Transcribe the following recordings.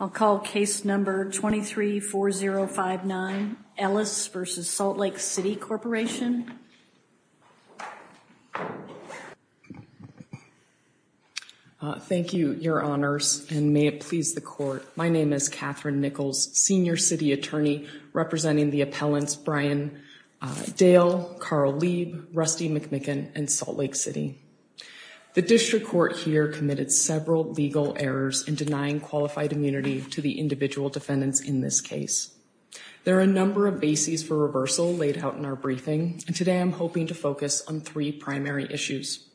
I'll call case number 234059, Ellis v. Salt Lake City Corporation. Thank you, your honors, and may it please the court. My name is Catherine Nichols, senior city attorney representing the appellants Brian Dale, Carl Lieb, Rusty McMicken, and Salt Lake City. The district court here committed several legal errors in denying qualified immunity to the individual defendants in this case. There are a number of bases for reversal laid out in our briefing, and today I'm hoping to focus on three primary issues.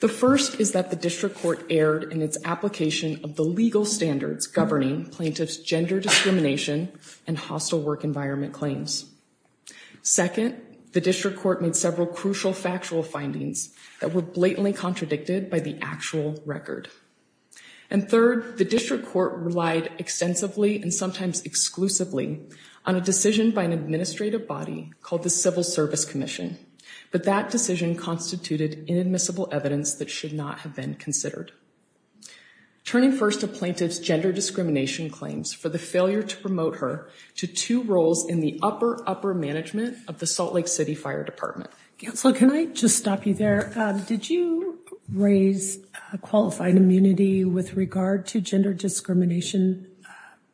The first is that the district court erred in its application of the legal standards governing plaintiffs' gender discrimination and hostile work environment claims. Second, the district court made several crucial factual findings that were blatantly contradicted by the actual record. And third, the district court relied extensively and sometimes exclusively on a decision by an administrative body called the Civil Service Commission, but that decision constituted inadmissible evidence that should not have been considered. Turning first to plaintiffs' gender discrimination claims for the failure to promote her to two roles in the upper, upper management of the Salt Lake City Fire Department. Counselor, can I just stop you there? Did you raise qualified immunity with regard to gender discrimination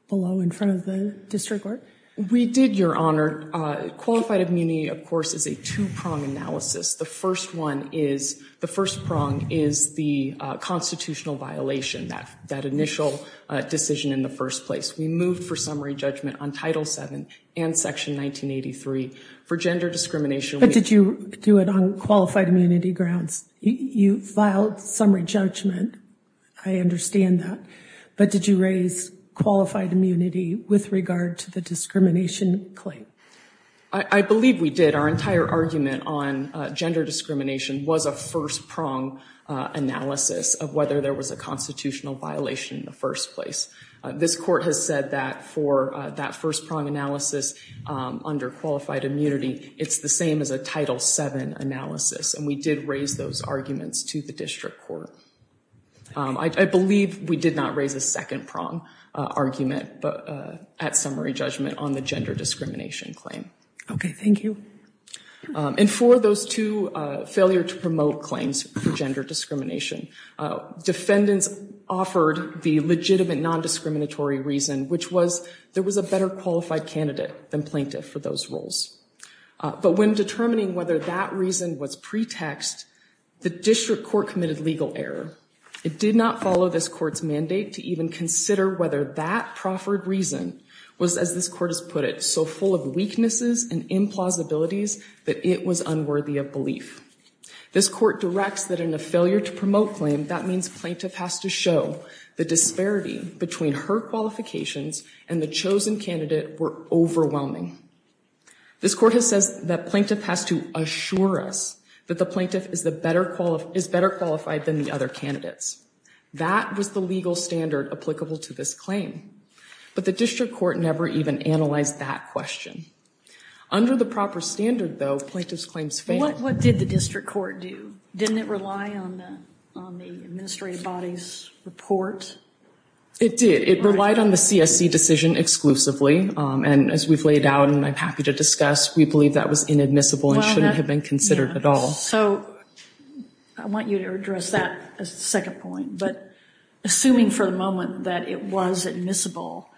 below in front of the district court? We did, Your Honor. Qualified immunity, of course, is a two-prong analysis. The first one is, the first prong is the constitutional violation, that initial decision in the first place. We moved for summary judgment on Title VII and Section 1983 for gender discrimination. But did you do it on qualified immunity grounds? You filed summary judgment. I understand that. But did you raise qualified immunity with regard to the discrimination claim? I believe we did. Our entire argument on gender discrimination was a first prong analysis of whether there was a constitutional violation in the first place. This court has said that for that first prong analysis under qualified immunity, it's the same as a Title VII analysis. And we did raise those arguments to the district court. I believe we did not raise a second prong argument at summary judgment on the gender discrimination claim. Okay, thank you. And for those two failure to promote claims for gender discrimination, defendants offered the legitimate nondiscriminatory reason, which was there was a better qualified candidate than plaintiff for those roles. But when determining whether that reason was pretext, the district court committed legal error. It did not follow this court's mandate to even consider whether that proffered reason was, as this court has put it, so full of weaknesses and implausibilities that it was unworthy of belief. This court directs that in a failure to promote claim, that means plaintiff has to show the disparity between her qualifications and the chosen candidate were overwhelming. This court has said that plaintiff has to assure us that the plaintiff is better qualified than the other candidates. That was the legal standard applicable to this claim. But the district court never even analyzed that question. Under the proper standard, though, plaintiff's claims failed. What did the district court do? Didn't it rely on the administrative body's report? It did. It relied on the CSC decision exclusively. And as we've laid out and I'm happy to discuss, we believe that was inadmissible and shouldn't have been considered at all. So I want you to address that as a second point. But assuming for the moment that it was admissible,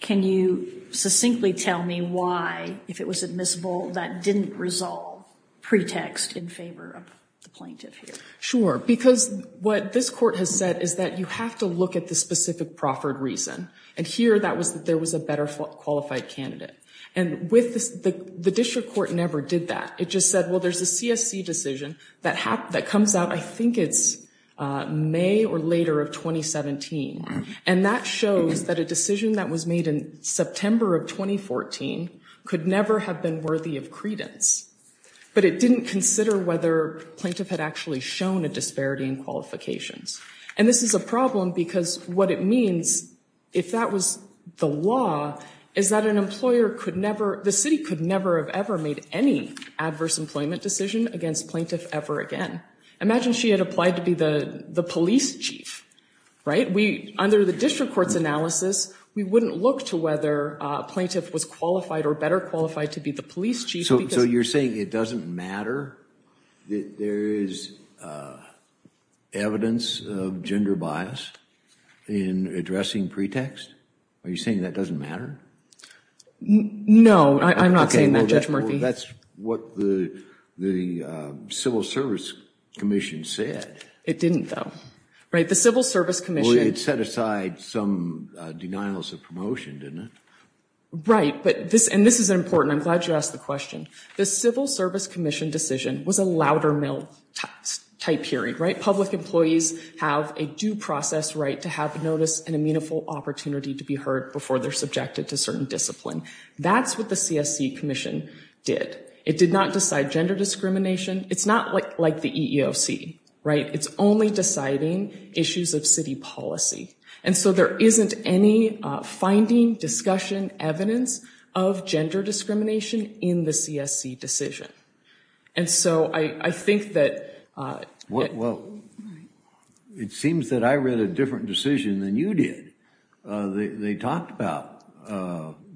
can you succinctly tell me why, if it was admissible, that didn't resolve pretext in favor of the plaintiff here? Sure. Because what this court has said is that you have to look at the specific proffered reason. And here that was that there was a better qualified candidate. And with this, the district court never did that. It just said, well, there's a CSC decision that comes out, I think it's May or later of 2017. And that shows that a decision that was made in September of 2014 could never have been worthy of credence. But it didn't consider whether plaintiff had actually shown a disparity in qualifications. And this is a problem because what it means, if that was the law, is that an employer could never, the city could never have ever made any adverse employment decision against plaintiff ever again. Imagine she had applied to be the police chief, right? Under the district court's analysis, we wouldn't look to whether a plaintiff was qualified or better qualified to be the police chief. So you're saying it doesn't matter that there is evidence of gender bias in addressing pretext? Are you saying that doesn't matter? No, I'm not saying that, Judge Murphy. That's what the Civil Service Commission said. It didn't though, right? Well, it set aside some denials of promotion, didn't it? Right. But this, and this is important. I'm glad you asked the question. The Civil Service Commission decision was a louder mail type hearing, right? Public employees have a due process right to have notice and a meaningful opportunity to be heard before they're subjected to certain discipline. That's what the CSC Commission did. It did not decide gender discrimination. It's not like the EEOC, right? It's only deciding issues of city policy. And so there isn't any finding, discussion, evidence of gender discrimination in the CSC decision. And so I think that... It seems that I read a different decision than you did. They talked about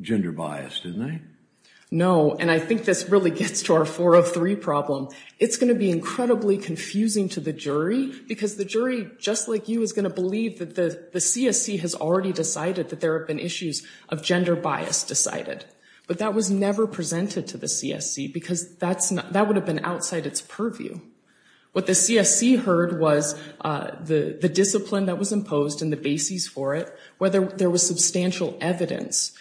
gender bias, didn't they? No, and I think this really gets to our 403 problem. It's going to be incredibly confusing to the jury because the jury, just like you, is going to believe that the CSC has already decided that there have been issues of gender bias decided. But that was never presented to the CSC because that would have been outside its purview. What the CSC heard was the discipline that was imposed and the basis for it, whether there was substantial evidence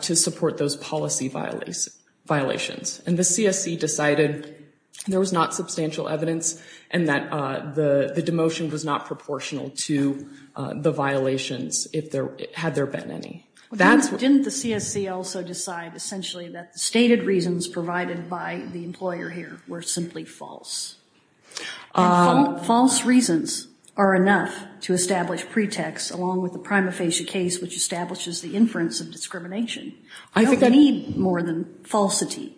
to support those policy violations. And the CSC decided there was not substantial evidence and that the demotion was not proportional to the violations if there had there been any. Didn't the CSC also decide essentially that the stated reasons provided by the employer here were simply false? False reasons are enough to establish pretext along with the prima facie case, which establishes the inference of discrimination. I don't need more than falsity.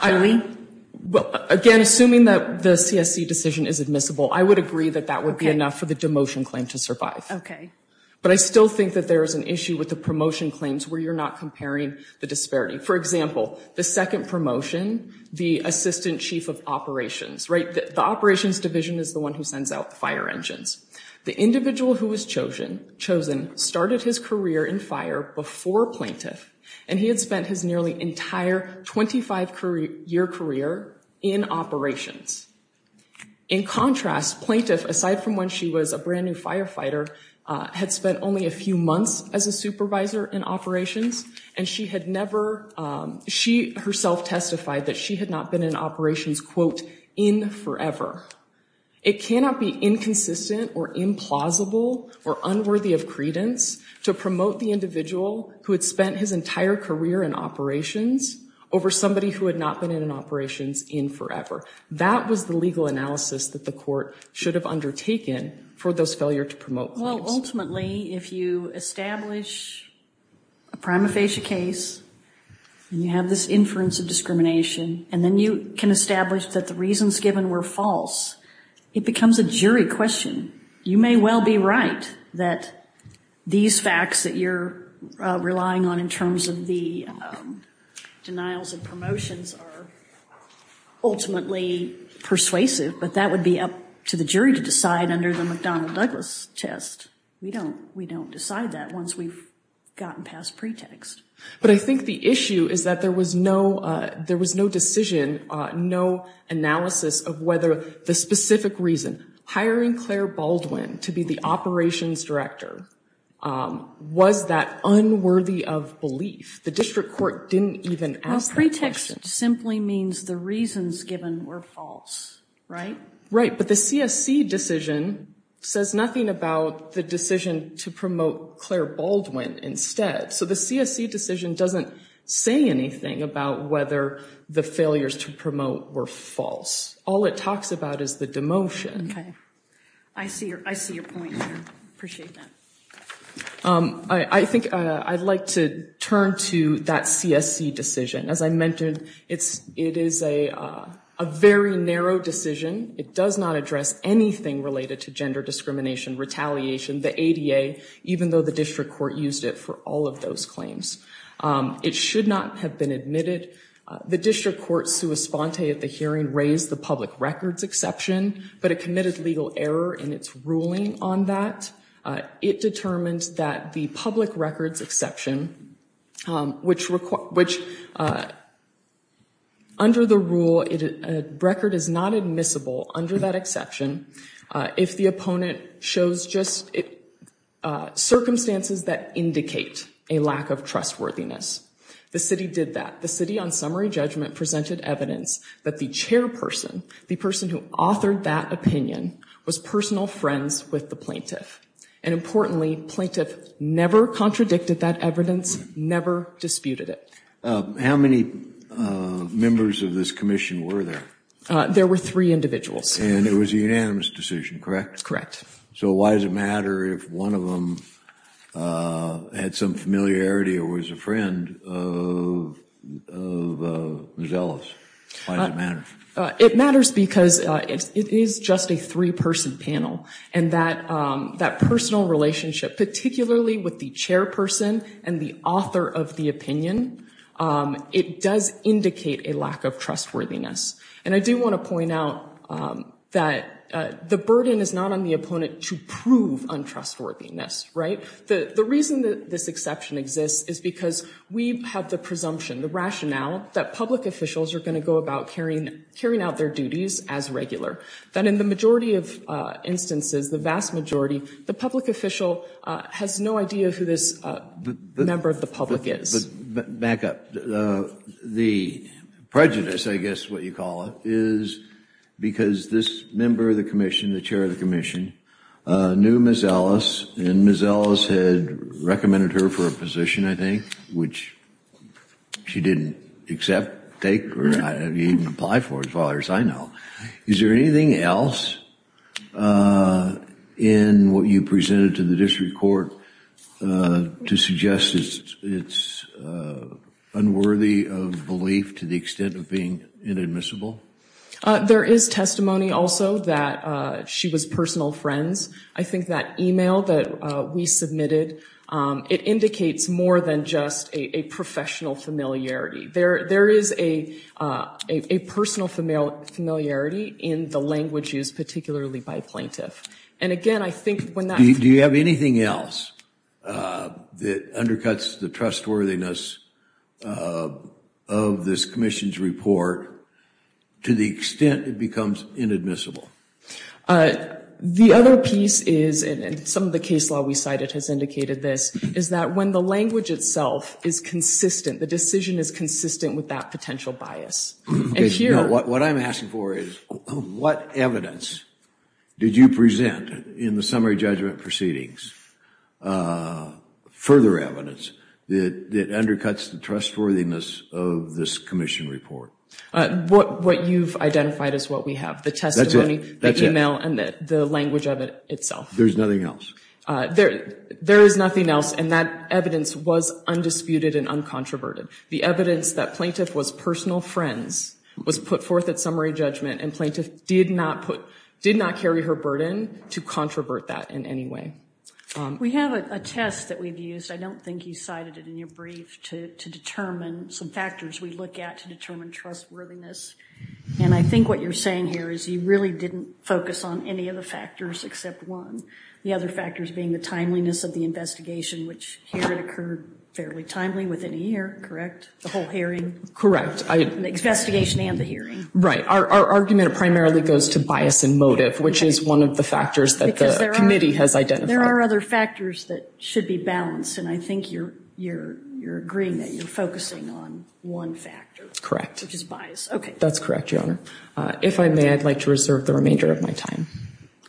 Again, assuming that the CSC decision is admissible, I would agree that that would be enough for the demotion claim to survive. Okay. But I still think that there is an issue with the promotion claims where you're not comparing the disparity. For example, the second promotion, the assistant chief of operations, right? The operations division is the one who sends out the fire engines. The individual who was chosen started his career in fire before plaintiff, and he had spent his nearly entire 25-year career in operations. In contrast, plaintiff, aside from when she was a brand new firefighter, had spent only a few months as a supervisor in operations, and she had never, she herself testified that she had not been in operations, quote, in forever. It cannot be inconsistent or implausible or unworthy of credence to promote the individual who had spent his entire career in operations over somebody who had not been in operations in forever. That was the legal analysis that the court should have undertaken for those failure to promote claims. Ultimately, if you establish a prima facie case, and you have this inference of discrimination, and then you can establish that the reasons given were false, it becomes a jury question. You may well be right that these facts that you're relying on in terms of the denials and promotions are ultimately persuasive, but that would be up to the jury to decide under the McDonnell-Douglas test. We don't, we don't decide that once we've gotten past pretext. But I think the issue is that there was no, there was no decision, no analysis of whether the specific reason, hiring Claire Baldwin to be the operations director, was that unworthy of belief. The district court didn't even ask that question. Well, pretext simply means the reasons given were false, right? Right, but the CSC decision says nothing about the decision to promote Claire Baldwin instead. So the CSC decision doesn't say anything about whether the failures to promote were false. All it talks about is the demotion. Okay, I see your, I see your point there. Appreciate that. I think I'd like to turn to that CSC decision. As I mentioned, it's, it is a very narrow decision. It does not address anything related to gender discrimination, retaliation, the ADA, even though the district court used it for all of those claims. It should not have been admitted. The district court, sua sponte at the hearing, raised the public records exception, but it committed legal error in its ruling on that. It determined that the public records exception, which required, which, under the rule, a record is not admissible under that exception. If the opponent shows just circumstances that indicate a lack of trustworthiness, the city did that. The city on summary judgment presented evidence that the chairperson, the person who authored that opinion, was personal friends with the plaintiff. And importantly, plaintiff never contradicted that evidence, never disputed it. How many members of this commission were there? There were three individuals. And it was a unanimous decision, correct? So why does it matter if one of them had some familiarity or was a friend of Ms. Ellis? Why does it matter? It matters because it is just a three-person panel. And that personal relationship, particularly with the chairperson and the author of the opinion, it does indicate a lack of trustworthiness. And I do want to point out that the burden is not on the opponent to prove untrustworthiness, right? The reason that this exception exists is because we have the presumption, the rationale, that public officials are going to go about carrying out their duties as regular. That in the majority of instances, the vast majority, the public official has no idea who this member of the public is. Back up. The prejudice, I guess what you call it, is because this member of the commission, the chair of the commission, knew Ms. Ellis and Ms. Ellis had recommended her for a position, I think, which she didn't accept, take, or even apply for as far as I know. Is there anything else in what you presented to the district court to suggest it's unworthy of belief to the extent of being inadmissible? There is testimony also that she was personal friends. I think that email that we submitted, it indicates more than just a professional familiarity. There is a personal familiarity in the language used, particularly by a plaintiff. And again, I think when that- Do you have anything else that undercuts the trustworthiness of this commission's report to the extent it becomes inadmissible? The other piece is, and some of the case law we cited has indicated this, is that when the language itself is consistent, the decision is consistent with that potential bias. What I'm asking for is, what evidence did you present in the summary judgment proceedings, further evidence that undercuts the trustworthiness of this commission report? What you've identified as what we have, the testimony, the email, and the language of it itself. There's nothing else? There is nothing else, and that evidence was undisputed and uncontroverted. The evidence that plaintiff was personal friends was put forth at summary judgment, and plaintiff did not carry her burden to controvert that in any way. We have a test that we've used, I don't think you cited it in your brief, to determine some factors we look at to determine trustworthiness. And I think what you're saying here is, you really didn't focus on any of the factors except one. The other factors being the timeliness of the investigation, which here it occurred fairly timely within a year, correct? The whole hearing? Correct. The investigation and the hearing? Right. Our argument primarily goes to bias and motive, which is one of the factors that the committee has identified. There are other factors that should be balanced, and I think you're agreeing that you're focusing on one factor. Correct. Which is bias. Okay. That's correct, Your Honor. If I may, I'd like to reserve the remainder of my time.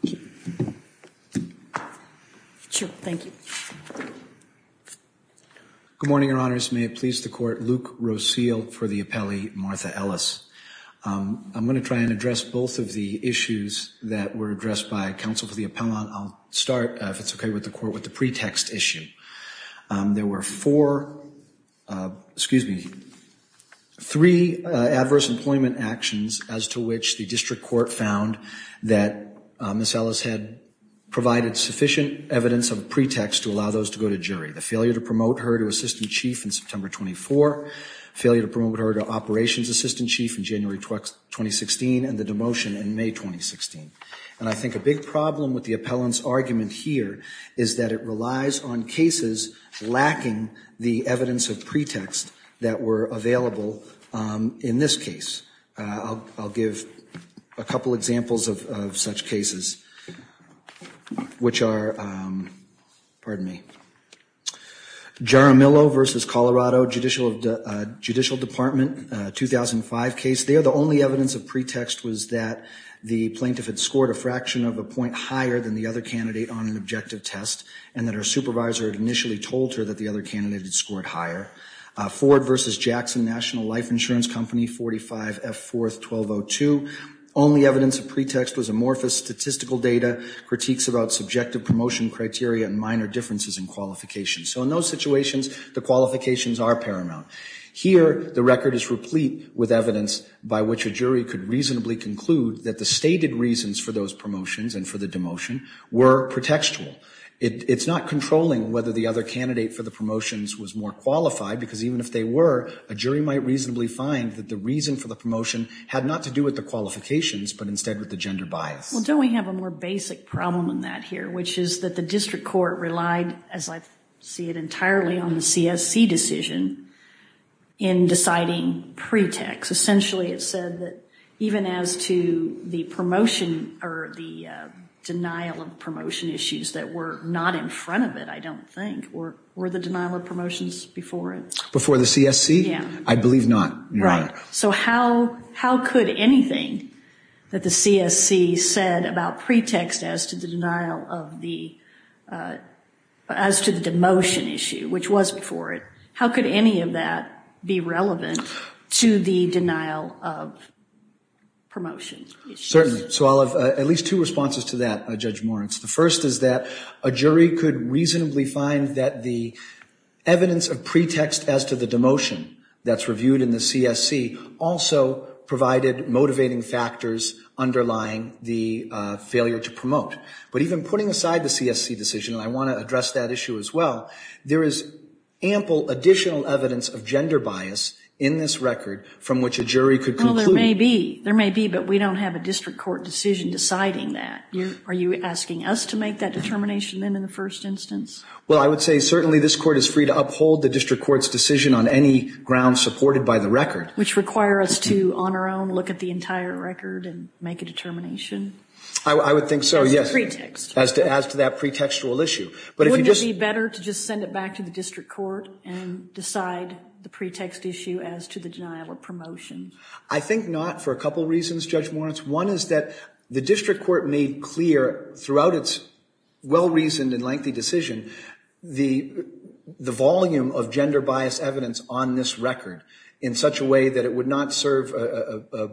Thank you. Sure, thank you. Good morning, Your Honors. May it please the Court, Luke Rosile for the appellee, Martha Ellis. I'm going to try and address both of the issues that were addressed by counsel for the appellant. I'll start, if it's okay with the Court, with the pretext issue. There were four, excuse me, three adverse employment actions as to which the district court found that Ms. Ellis had provided sufficient evidence of a pretext to allow those to go to jury. The failure to promote her to assistant chief in September 24, failure to promote her to operations assistant chief in January 2016, and the demotion in May 2016. And I think a big problem with the appellant's argument here is that it relies on cases lacking the evidence of pretext that were available in this case. I'll give a couple examples of such cases, which are, pardon me, Jaramillo v. Colorado, Judicial Department, 2005 case. There, the only evidence of pretext was that the plaintiff had scored a fraction of a point higher than the other candidate on an objective test, and that her supervisor had initially told her that the other candidate had scored higher. Ford v. Jackson National Life Insurance Company, 45 F. 4th, 1202. Only evidence of pretext was amorphous statistical data, critiques about subjective promotion criteria, and minor differences in qualifications. So in those situations, the qualifications are paramount. Here, the record is replete with evidence by which a jury could reasonably conclude that the stated reasons for those promotions and for the demotion were pretextual. It's not controlling whether the other candidate for the promotions was more qualified, because even if they were, a jury might reasonably find that the reason for the promotion had not to do with the qualifications, but instead with the gender bias. Well, don't we have a more basic problem in that here, which is that the district court relied, as I see it entirely, on the CSC decision in deciding pretext. Essentially, it said that even as to the promotion, or the denial of promotion issues that were not in front of it, I don't think, or were the denial of promotions before it? Before the CSC? Yeah. I believe not. Right. So how could anything that the CSC said about pretext as to the denial of the, as to the demotion issue, which was before it, how could any of that be relevant to the denial of promotion issues? Certainly. So I'll have at least two responses to that, Judge Moritz. The first is that a jury could reasonably find that the evidence of pretext as to the demotion that's reviewed in the CSC also provided motivating factors underlying the failure to promote. But even putting aside the CSC decision, and I want to address that issue as well, there is ample additional evidence of gender bias in this record from which a jury could conclude. There may be, but we don't have a district court decision deciding that. Are you asking us to make that determination, then, in the first instance? Well, I would say certainly this court is free to uphold the district court's decision on any ground supported by the record. Which require us to, on our own, look at the entire record and make a determination? I would think so, yes. As to the pretext. As to that pretextual issue. But if you just... Wouldn't it be better to just send it back to the district court and decide the pretext issue as to the denial of promotion? I think not for a couple reasons, Judge Moritz. One is that the district court made clear throughout its well-reasoned and lengthy decision the volume of gender bias evidence on this record in such a way that it would not serve a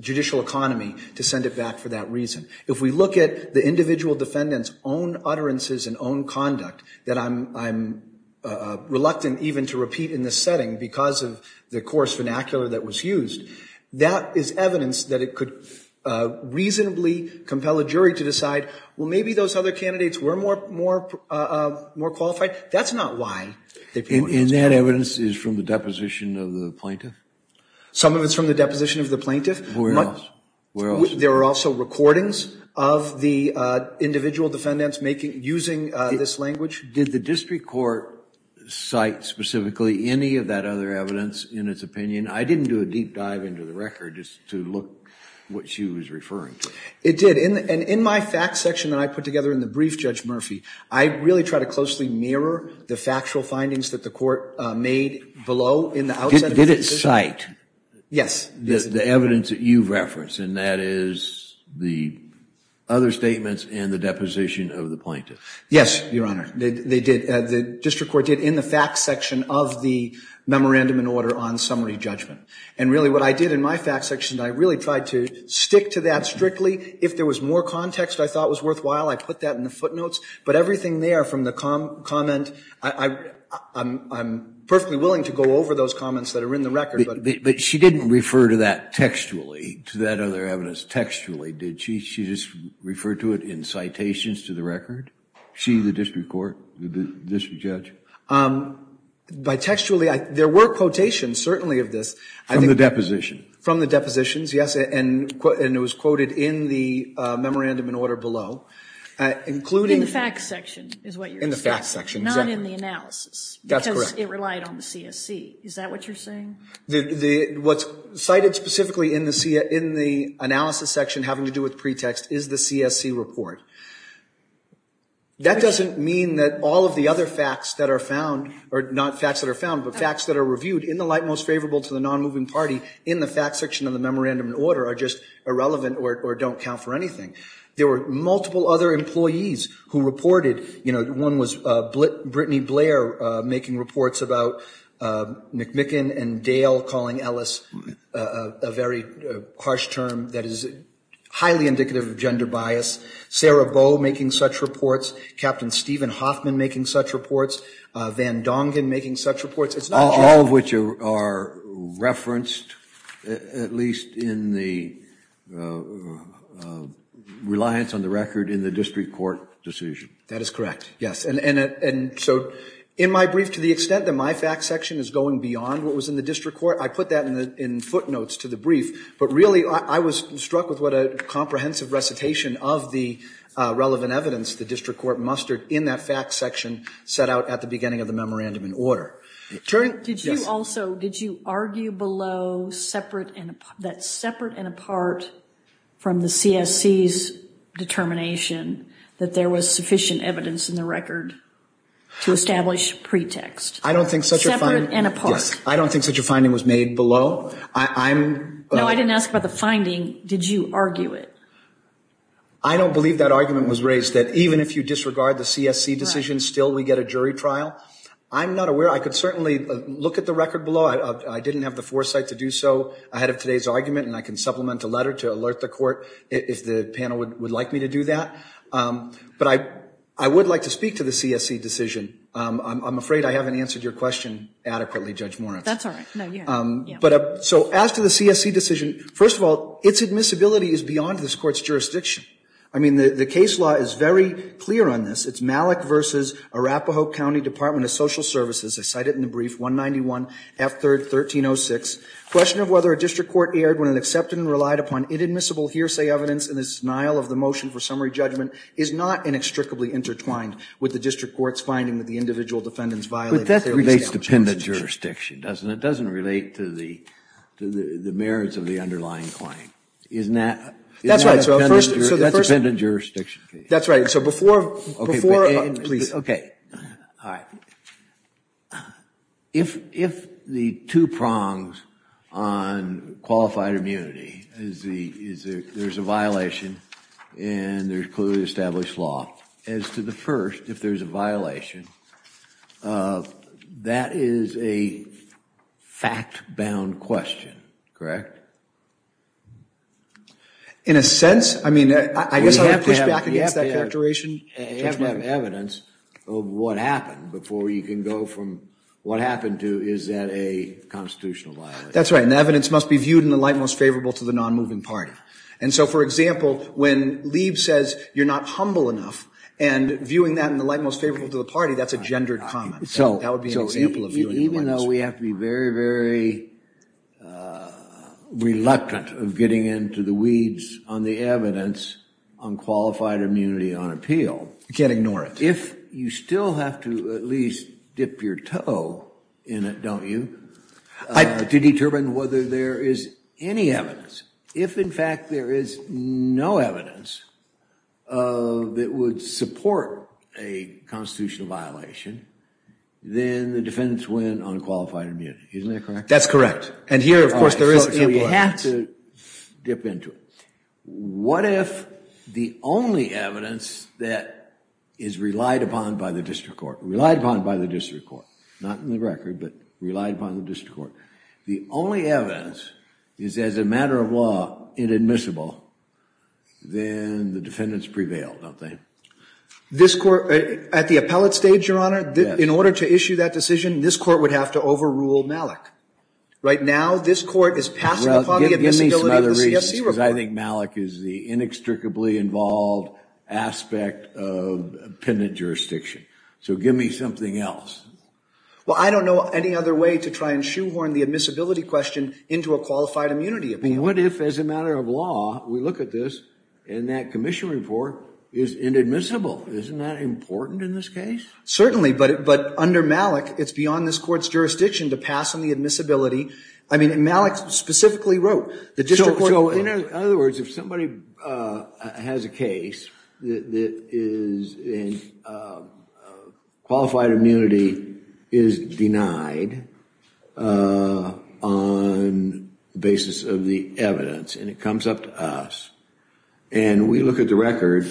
judicial economy to send it back for that reason. If we look at the individual defendant's own utterances and own conduct that I'm reluctant even to repeat in this setting because of the coarse vernacular that was used, that is evidence that it could reasonably compel a jury to decide, well, maybe those other candidates were more qualified. That's not why. And that evidence is from the deposition of the plaintiff? Some of it's from the deposition of the plaintiff. Where else? There are also recordings of the individual defendants using this language. Did the district court cite specifically any of that other evidence in its opinion? I didn't do a deep dive into the record just to look what she was referring to. It did, and in my fact section that I put together in the brief, Judge Murphy, I really try to closely mirror the factual findings that the court made below in the outset. Did it cite the evidence that you've referenced, and that is the other statements in the deposition of the plaintiff? Yes, Your Honor, they did. The district court did in the fact section of the memorandum and order on summary judgment. And really what I did in my fact section, I really tried to stick to that strictly. If there was more context I thought was worthwhile, I put that in the footnotes. But everything there from the comment, I'm perfectly willing to go over those comments that are in the record. But she didn't refer to that textually, to that other evidence textually, did she? She just referred to it in citations to the record? She, the district court, the district judge? By textually, there were quotations certainly of this. From the deposition? From the depositions, yes, and it was quoted in the memorandum and order below, including... In the fact section is what you're saying. In the fact section, exactly. Not in the analysis. That's correct. Because it relied on the CSC. Is that what you're saying? What's cited specifically in the analysis section having to do with pretext is the CSC report. That doesn't mean that all of the other facts that are found, or not facts that are found, but facts that are reviewed in the light most favorable to the non-moving party in the fact section of the memorandum and order are just irrelevant or don't count for anything. There were multiple other employees who reported. You know, one was Brittany Blair making reports about McMicken and Dale calling Ellis a very harsh term that is highly indicative of gender bias. Sarah Boe making such reports. Captain Stephen Hoffman making such reports. Van Dongen making such reports. It's not just... All of which are referenced, at least in the reliance on the record in the district court decision. That is correct, yes. And so in my brief, to the extent that my fact section is going beyond what was in the district court, I put that in footnotes to the brief, but really I was struck with what a comprehensive recitation of the relevant evidence the district court mustered in that fact section set out at the beginning of the memorandum and order. Did you also, did you argue below that separate and apart from the CSC's determination that there was sufficient evidence in the record to establish pretext? I don't think such a... Separate and apart. I don't think such a finding was made below. No, I didn't ask about the finding. Did you argue it? I don't believe that argument was raised that even if you disregard the CSC decision, still we get a jury trial. I'm not aware. I could certainly look at the record below. I didn't have the foresight to do so ahead of today's argument, and I can supplement a letter to alert the court if the panel would like me to do that. But I would like to speak to the CSC decision. I'm afraid I haven't answered your question adequately, Judge Moritz. That's all right. No, you have. But so as to the CSC decision, first of all, its admissibility is beyond this court's jurisdiction. I mean, the case law is very clear on this. It's Malik v. Arapahoe County Department of Social Services. I cite it in the brief, 191 F. 3rd, 1306. Question of whether a district court erred when it accepted and relied upon inadmissible hearsay evidence in the denial of the motion for summary judgment is not inextricably intertwined with the district court's finding that the individual defendants violated... But that relates to pendant jurisdiction, doesn't it? It doesn't relate to the merits of the underlying claim. Isn't that... That's right. So first... That's a pendant jurisdiction case. That's right. So before... Please. All right. If the two prongs on qualified immunity is there's a violation and there's clearly established law, as to the first, if there's a violation, that is a fact-bound question, correct? In a sense, I mean, I guess I would push back against that characterization. You have to have evidence of what happened before you can go from what happened to is that a constitutional violation? That's right. And the evidence must be viewed in the light most favorable to the non-moving party. And so, for example, when Lieb says you're not humble enough and viewing that in the light most favorable to the party, that's a gendered comment. So that would be an example of viewing... Even though we have to be very, very reluctant of getting into the weeds on the evidence on qualified immunity on appeal... You can't ignore it. If you still have to at least dip your toe in it, don't you? To determine whether there is any evidence. If, in fact, there is no evidence that would support a constitutional violation, then the defendants win on qualified immunity. Isn't that correct? That's correct. And here, of course, there is... So you have to dip into it. What if the only evidence that is relied upon by the district court, relied upon by the district court, not in the record, but relied upon the district court, the only evidence is, as a matter of law, inadmissible, then the defendants prevail, don't they? This court, at the appellate stage, Your Honor, in order to issue that decision, this court would have to overrule Malik. Right now, this court is passing upon the admissibility of the CFC report. I think Malik is the inextricably involved aspect of appendant jurisdiction. So give me something else. Well, I don't know any other way to try and shoehorn the admissibility question into a qualified immunity appeal. What if, as a matter of law, we look at this and that commission report is inadmissible? Isn't that important in this case? Certainly. But under Malik, it's beyond this court's jurisdiction to pass on the admissibility. I mean, Malik specifically wrote the district court... So, in other words, if somebody has a case that is... And qualified immunity is denied on basis of the evidence and it comes up to us. And we look at the record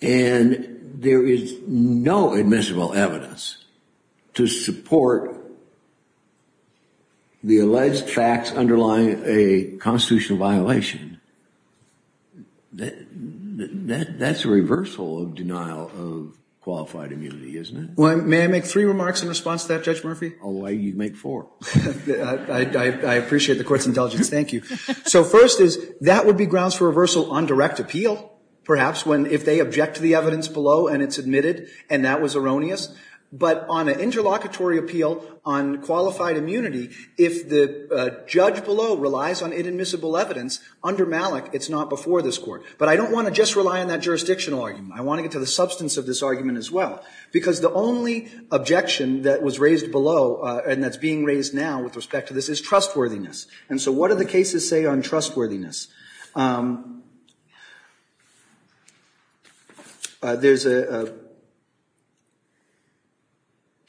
and there is no admissible evidence to support the alleged facts underlying a constitutional violation. That's a reversal of denial of qualified immunity, isn't it? Well, may I make three remarks in response to that, Judge Murphy? Oh, you'd make four. I appreciate the court's intelligence. Thank you. So first is that would be grounds for reversal on direct appeal, perhaps, if they object to the evidence below and it's admitted and that was erroneous. But on an interlocutory appeal on qualified immunity, if the judge below relies on inadmissible evidence, under Malik, it's not before this court. But I don't want to just rely on that jurisdictional argument. I want to get to the substance of this argument as well. Because the only objection that was raised below and that's being raised now with respect to this is trustworthiness. And so what do the cases say on trustworthiness? There's a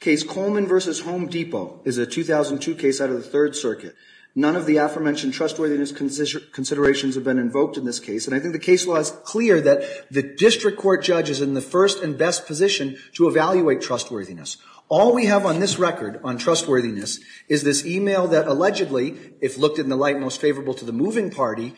case, Coleman v. Home Depot, is a 2002 case out of the Third Circuit. None of the aforementioned trustworthiness considerations have been invoked in this case. And I think the case law is clear that the district court judge is in the first and best position to evaluate trustworthiness. All we have on this record on trustworthiness is this email that allegedly, if looked in the light most favorable to the moving party,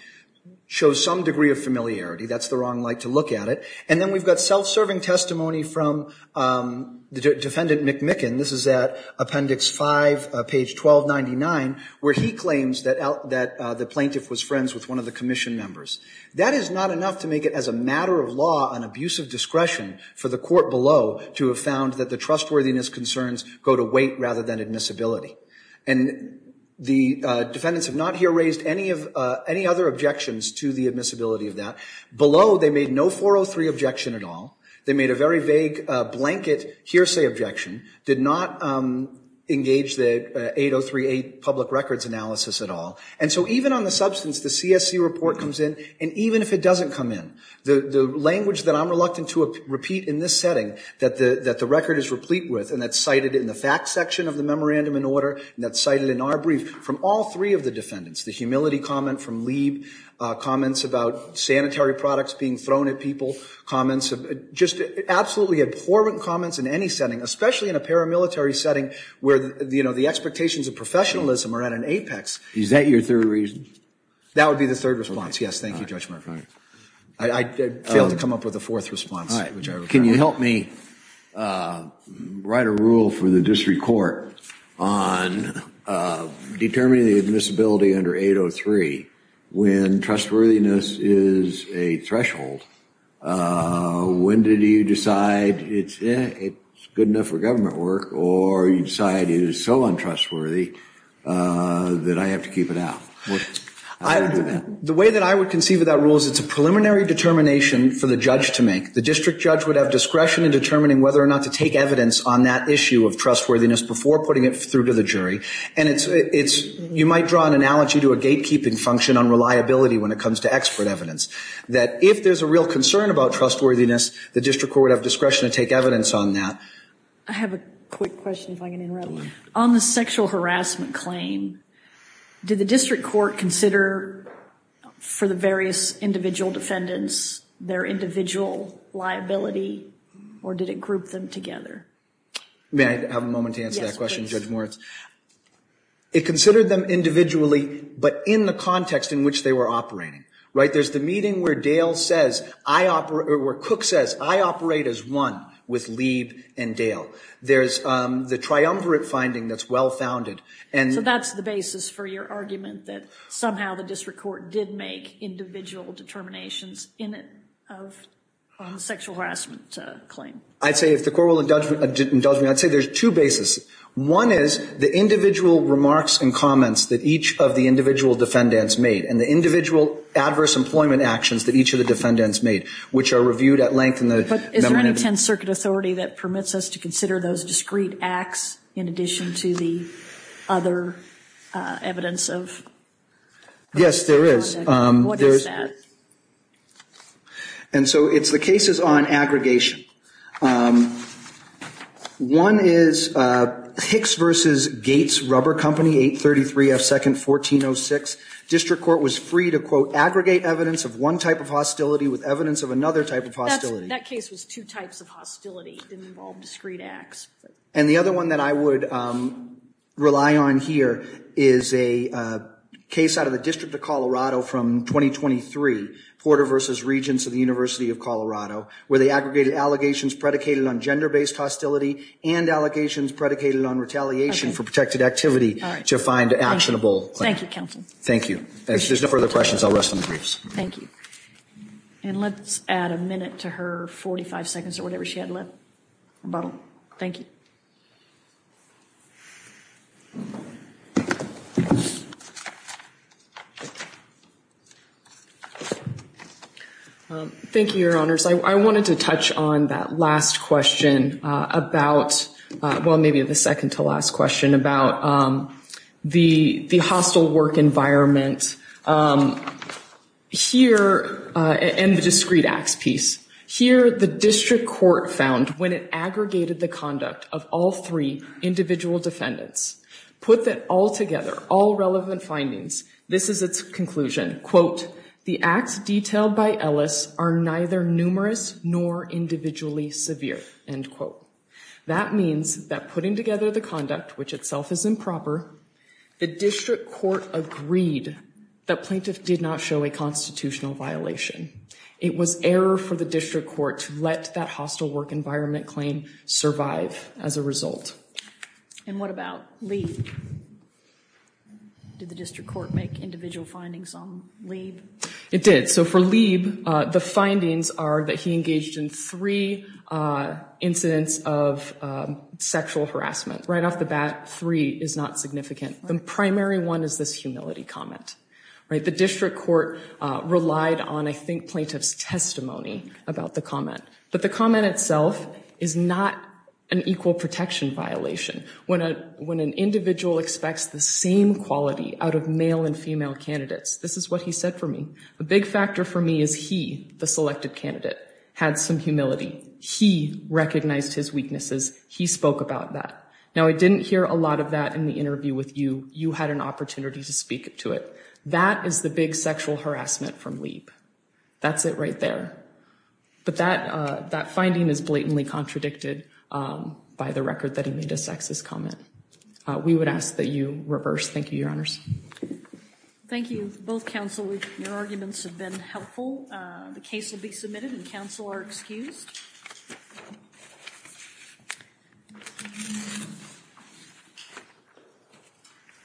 shows some degree of familiarity. That's the wrong light to look at it. And then we've got self-serving testimony from the defendant McMicken. This is at appendix 5, page 1299, where he claims that the plaintiff was friends with one of the commission members. That is not enough to make it as a matter of law an abuse of discretion for the court below to have found that the trustworthiness concerns go to weight rather than admissibility. And the defendants have not here raised any other objections to the admissibility of that. Below, they made no 403 objection at all. They made a very vague blanket hearsay objection. Did not engage the 8038 public records analysis at all. And so even on the substance, the CSC report comes in. And even if it doesn't come in, the language that I'm reluctant to repeat in this setting that the record is replete with, and that's cited in the facts section of the memorandum in order, and that's cited in our brief, from all three of the defendants, the humility comment from Lieb, comments about sanitary products being thrown at people, comments just absolutely abhorrent comments in any setting, especially in a paramilitary setting where the expectations of professionalism are at an apex. Is that your third reason? That would be the third response. Yes. Thank you, Judge Murphy. I failed to come up with a fourth response. Can you help me write a rule for the district court on determining the admissibility under 803 when trustworthiness is a threshold? When did you decide it's good enough for government work or you decide it is so untrustworthy that I have to keep it out? The way that I would conceive of that rule is it's a preliminary determination for the judge to make. The district judge would have discretion in determining whether or not to take evidence on that issue of trustworthiness before putting it through to the jury. And you might draw an analogy to a gatekeeping function on reliability when it comes to expert evidence, that if there's a real concern about trustworthiness, the district court would have discretion to take evidence on that. I have a quick question if I can interrupt. On the sexual harassment claim, did the district court consider for the various individual defendants their individual liability or did it group them together? May I have a moment to answer that question, Judge Moritz? It considered them individually, but in the context in which they were operating, right? There's the meeting where Dale says, where Cook says, I operate as one with Lieb and Dale. There's the triumvirate finding that's well-founded. And so that's the basis for your argument that somehow the district court did make individual determinations in it of the sexual harassment claim? I'd say if the court will indulge me, I'd say there's two basis. One is the individual remarks and comments that each of the individual defendants made and the individual adverse employment actions that each of the defendants made, which are reviewed at length in the memorandum. But is there any 10th Circuit authority that permits us to consider those discrete acts in addition to the other evidence of? Yes, there is. What is that? And so it's the cases on aggregation. One is Hicks versus Gates Rubber Company, 833 F 2nd, 1406. District court was free to, quote, aggregate evidence of one type of hostility with evidence of another type of hostility. That case was two types of hostility. It didn't involve discrete acts. And the other one that I would rely on here is a case out of the District of Colorado from 2023, Porter versus Regents of the University of Colorado, where they aggregated allegations predicated on gender-based hostility and allegations predicated on retaliation for protected activity to find actionable claim. Thank you, counsel. Thank you. If there's no further questions, I'll rest on the briefs. Thank you. And let's add a minute to her 45 seconds or whatever she had left, or bottle. Thank you. Thank you, your honors. I wanted to touch on that last question about, well, maybe the second to last question about the hostile work environment here and the discrete acts piece. Here, the district court found when it aggregated the conduct of all three individual defendants, put that all together, all relevant findings, this is its conclusion, quote, the acts detailed by Ellis are neither numerous nor individually severe, end quote. That means that putting together the conduct, which itself is improper, the district court agreed that plaintiff did not show a constitutional violation. It was error for the district court to let that hostile work environment claim survive as a result. And what about Lee? Did the district court make individual findings on Lee? It did. So for Lee, the findings are that he engaged in three incidents of sexual harassment. Right off the bat, three is not significant. The primary one is this humility comment, right? The district court relied on, I think, plaintiff's testimony about the comment. But the comment itself is not an equal protection violation. When an individual expects the same quality out of male and female candidates, this is what he said for me. The big factor for me is he, the selected candidate, had some humility. He recognized his weaknesses. He spoke about that. Now, I didn't hear a lot of that in the interview with you. You had an opportunity to speak to it. That is the big sexual harassment from Lee. That's it right there. But that finding is blatantly contradicted by the record that he made a sexist comment. We would ask that you reverse. Thank you, your honors. Thank you. Both counsel, your arguments have been helpful. The case will be submitted and counsel are excused.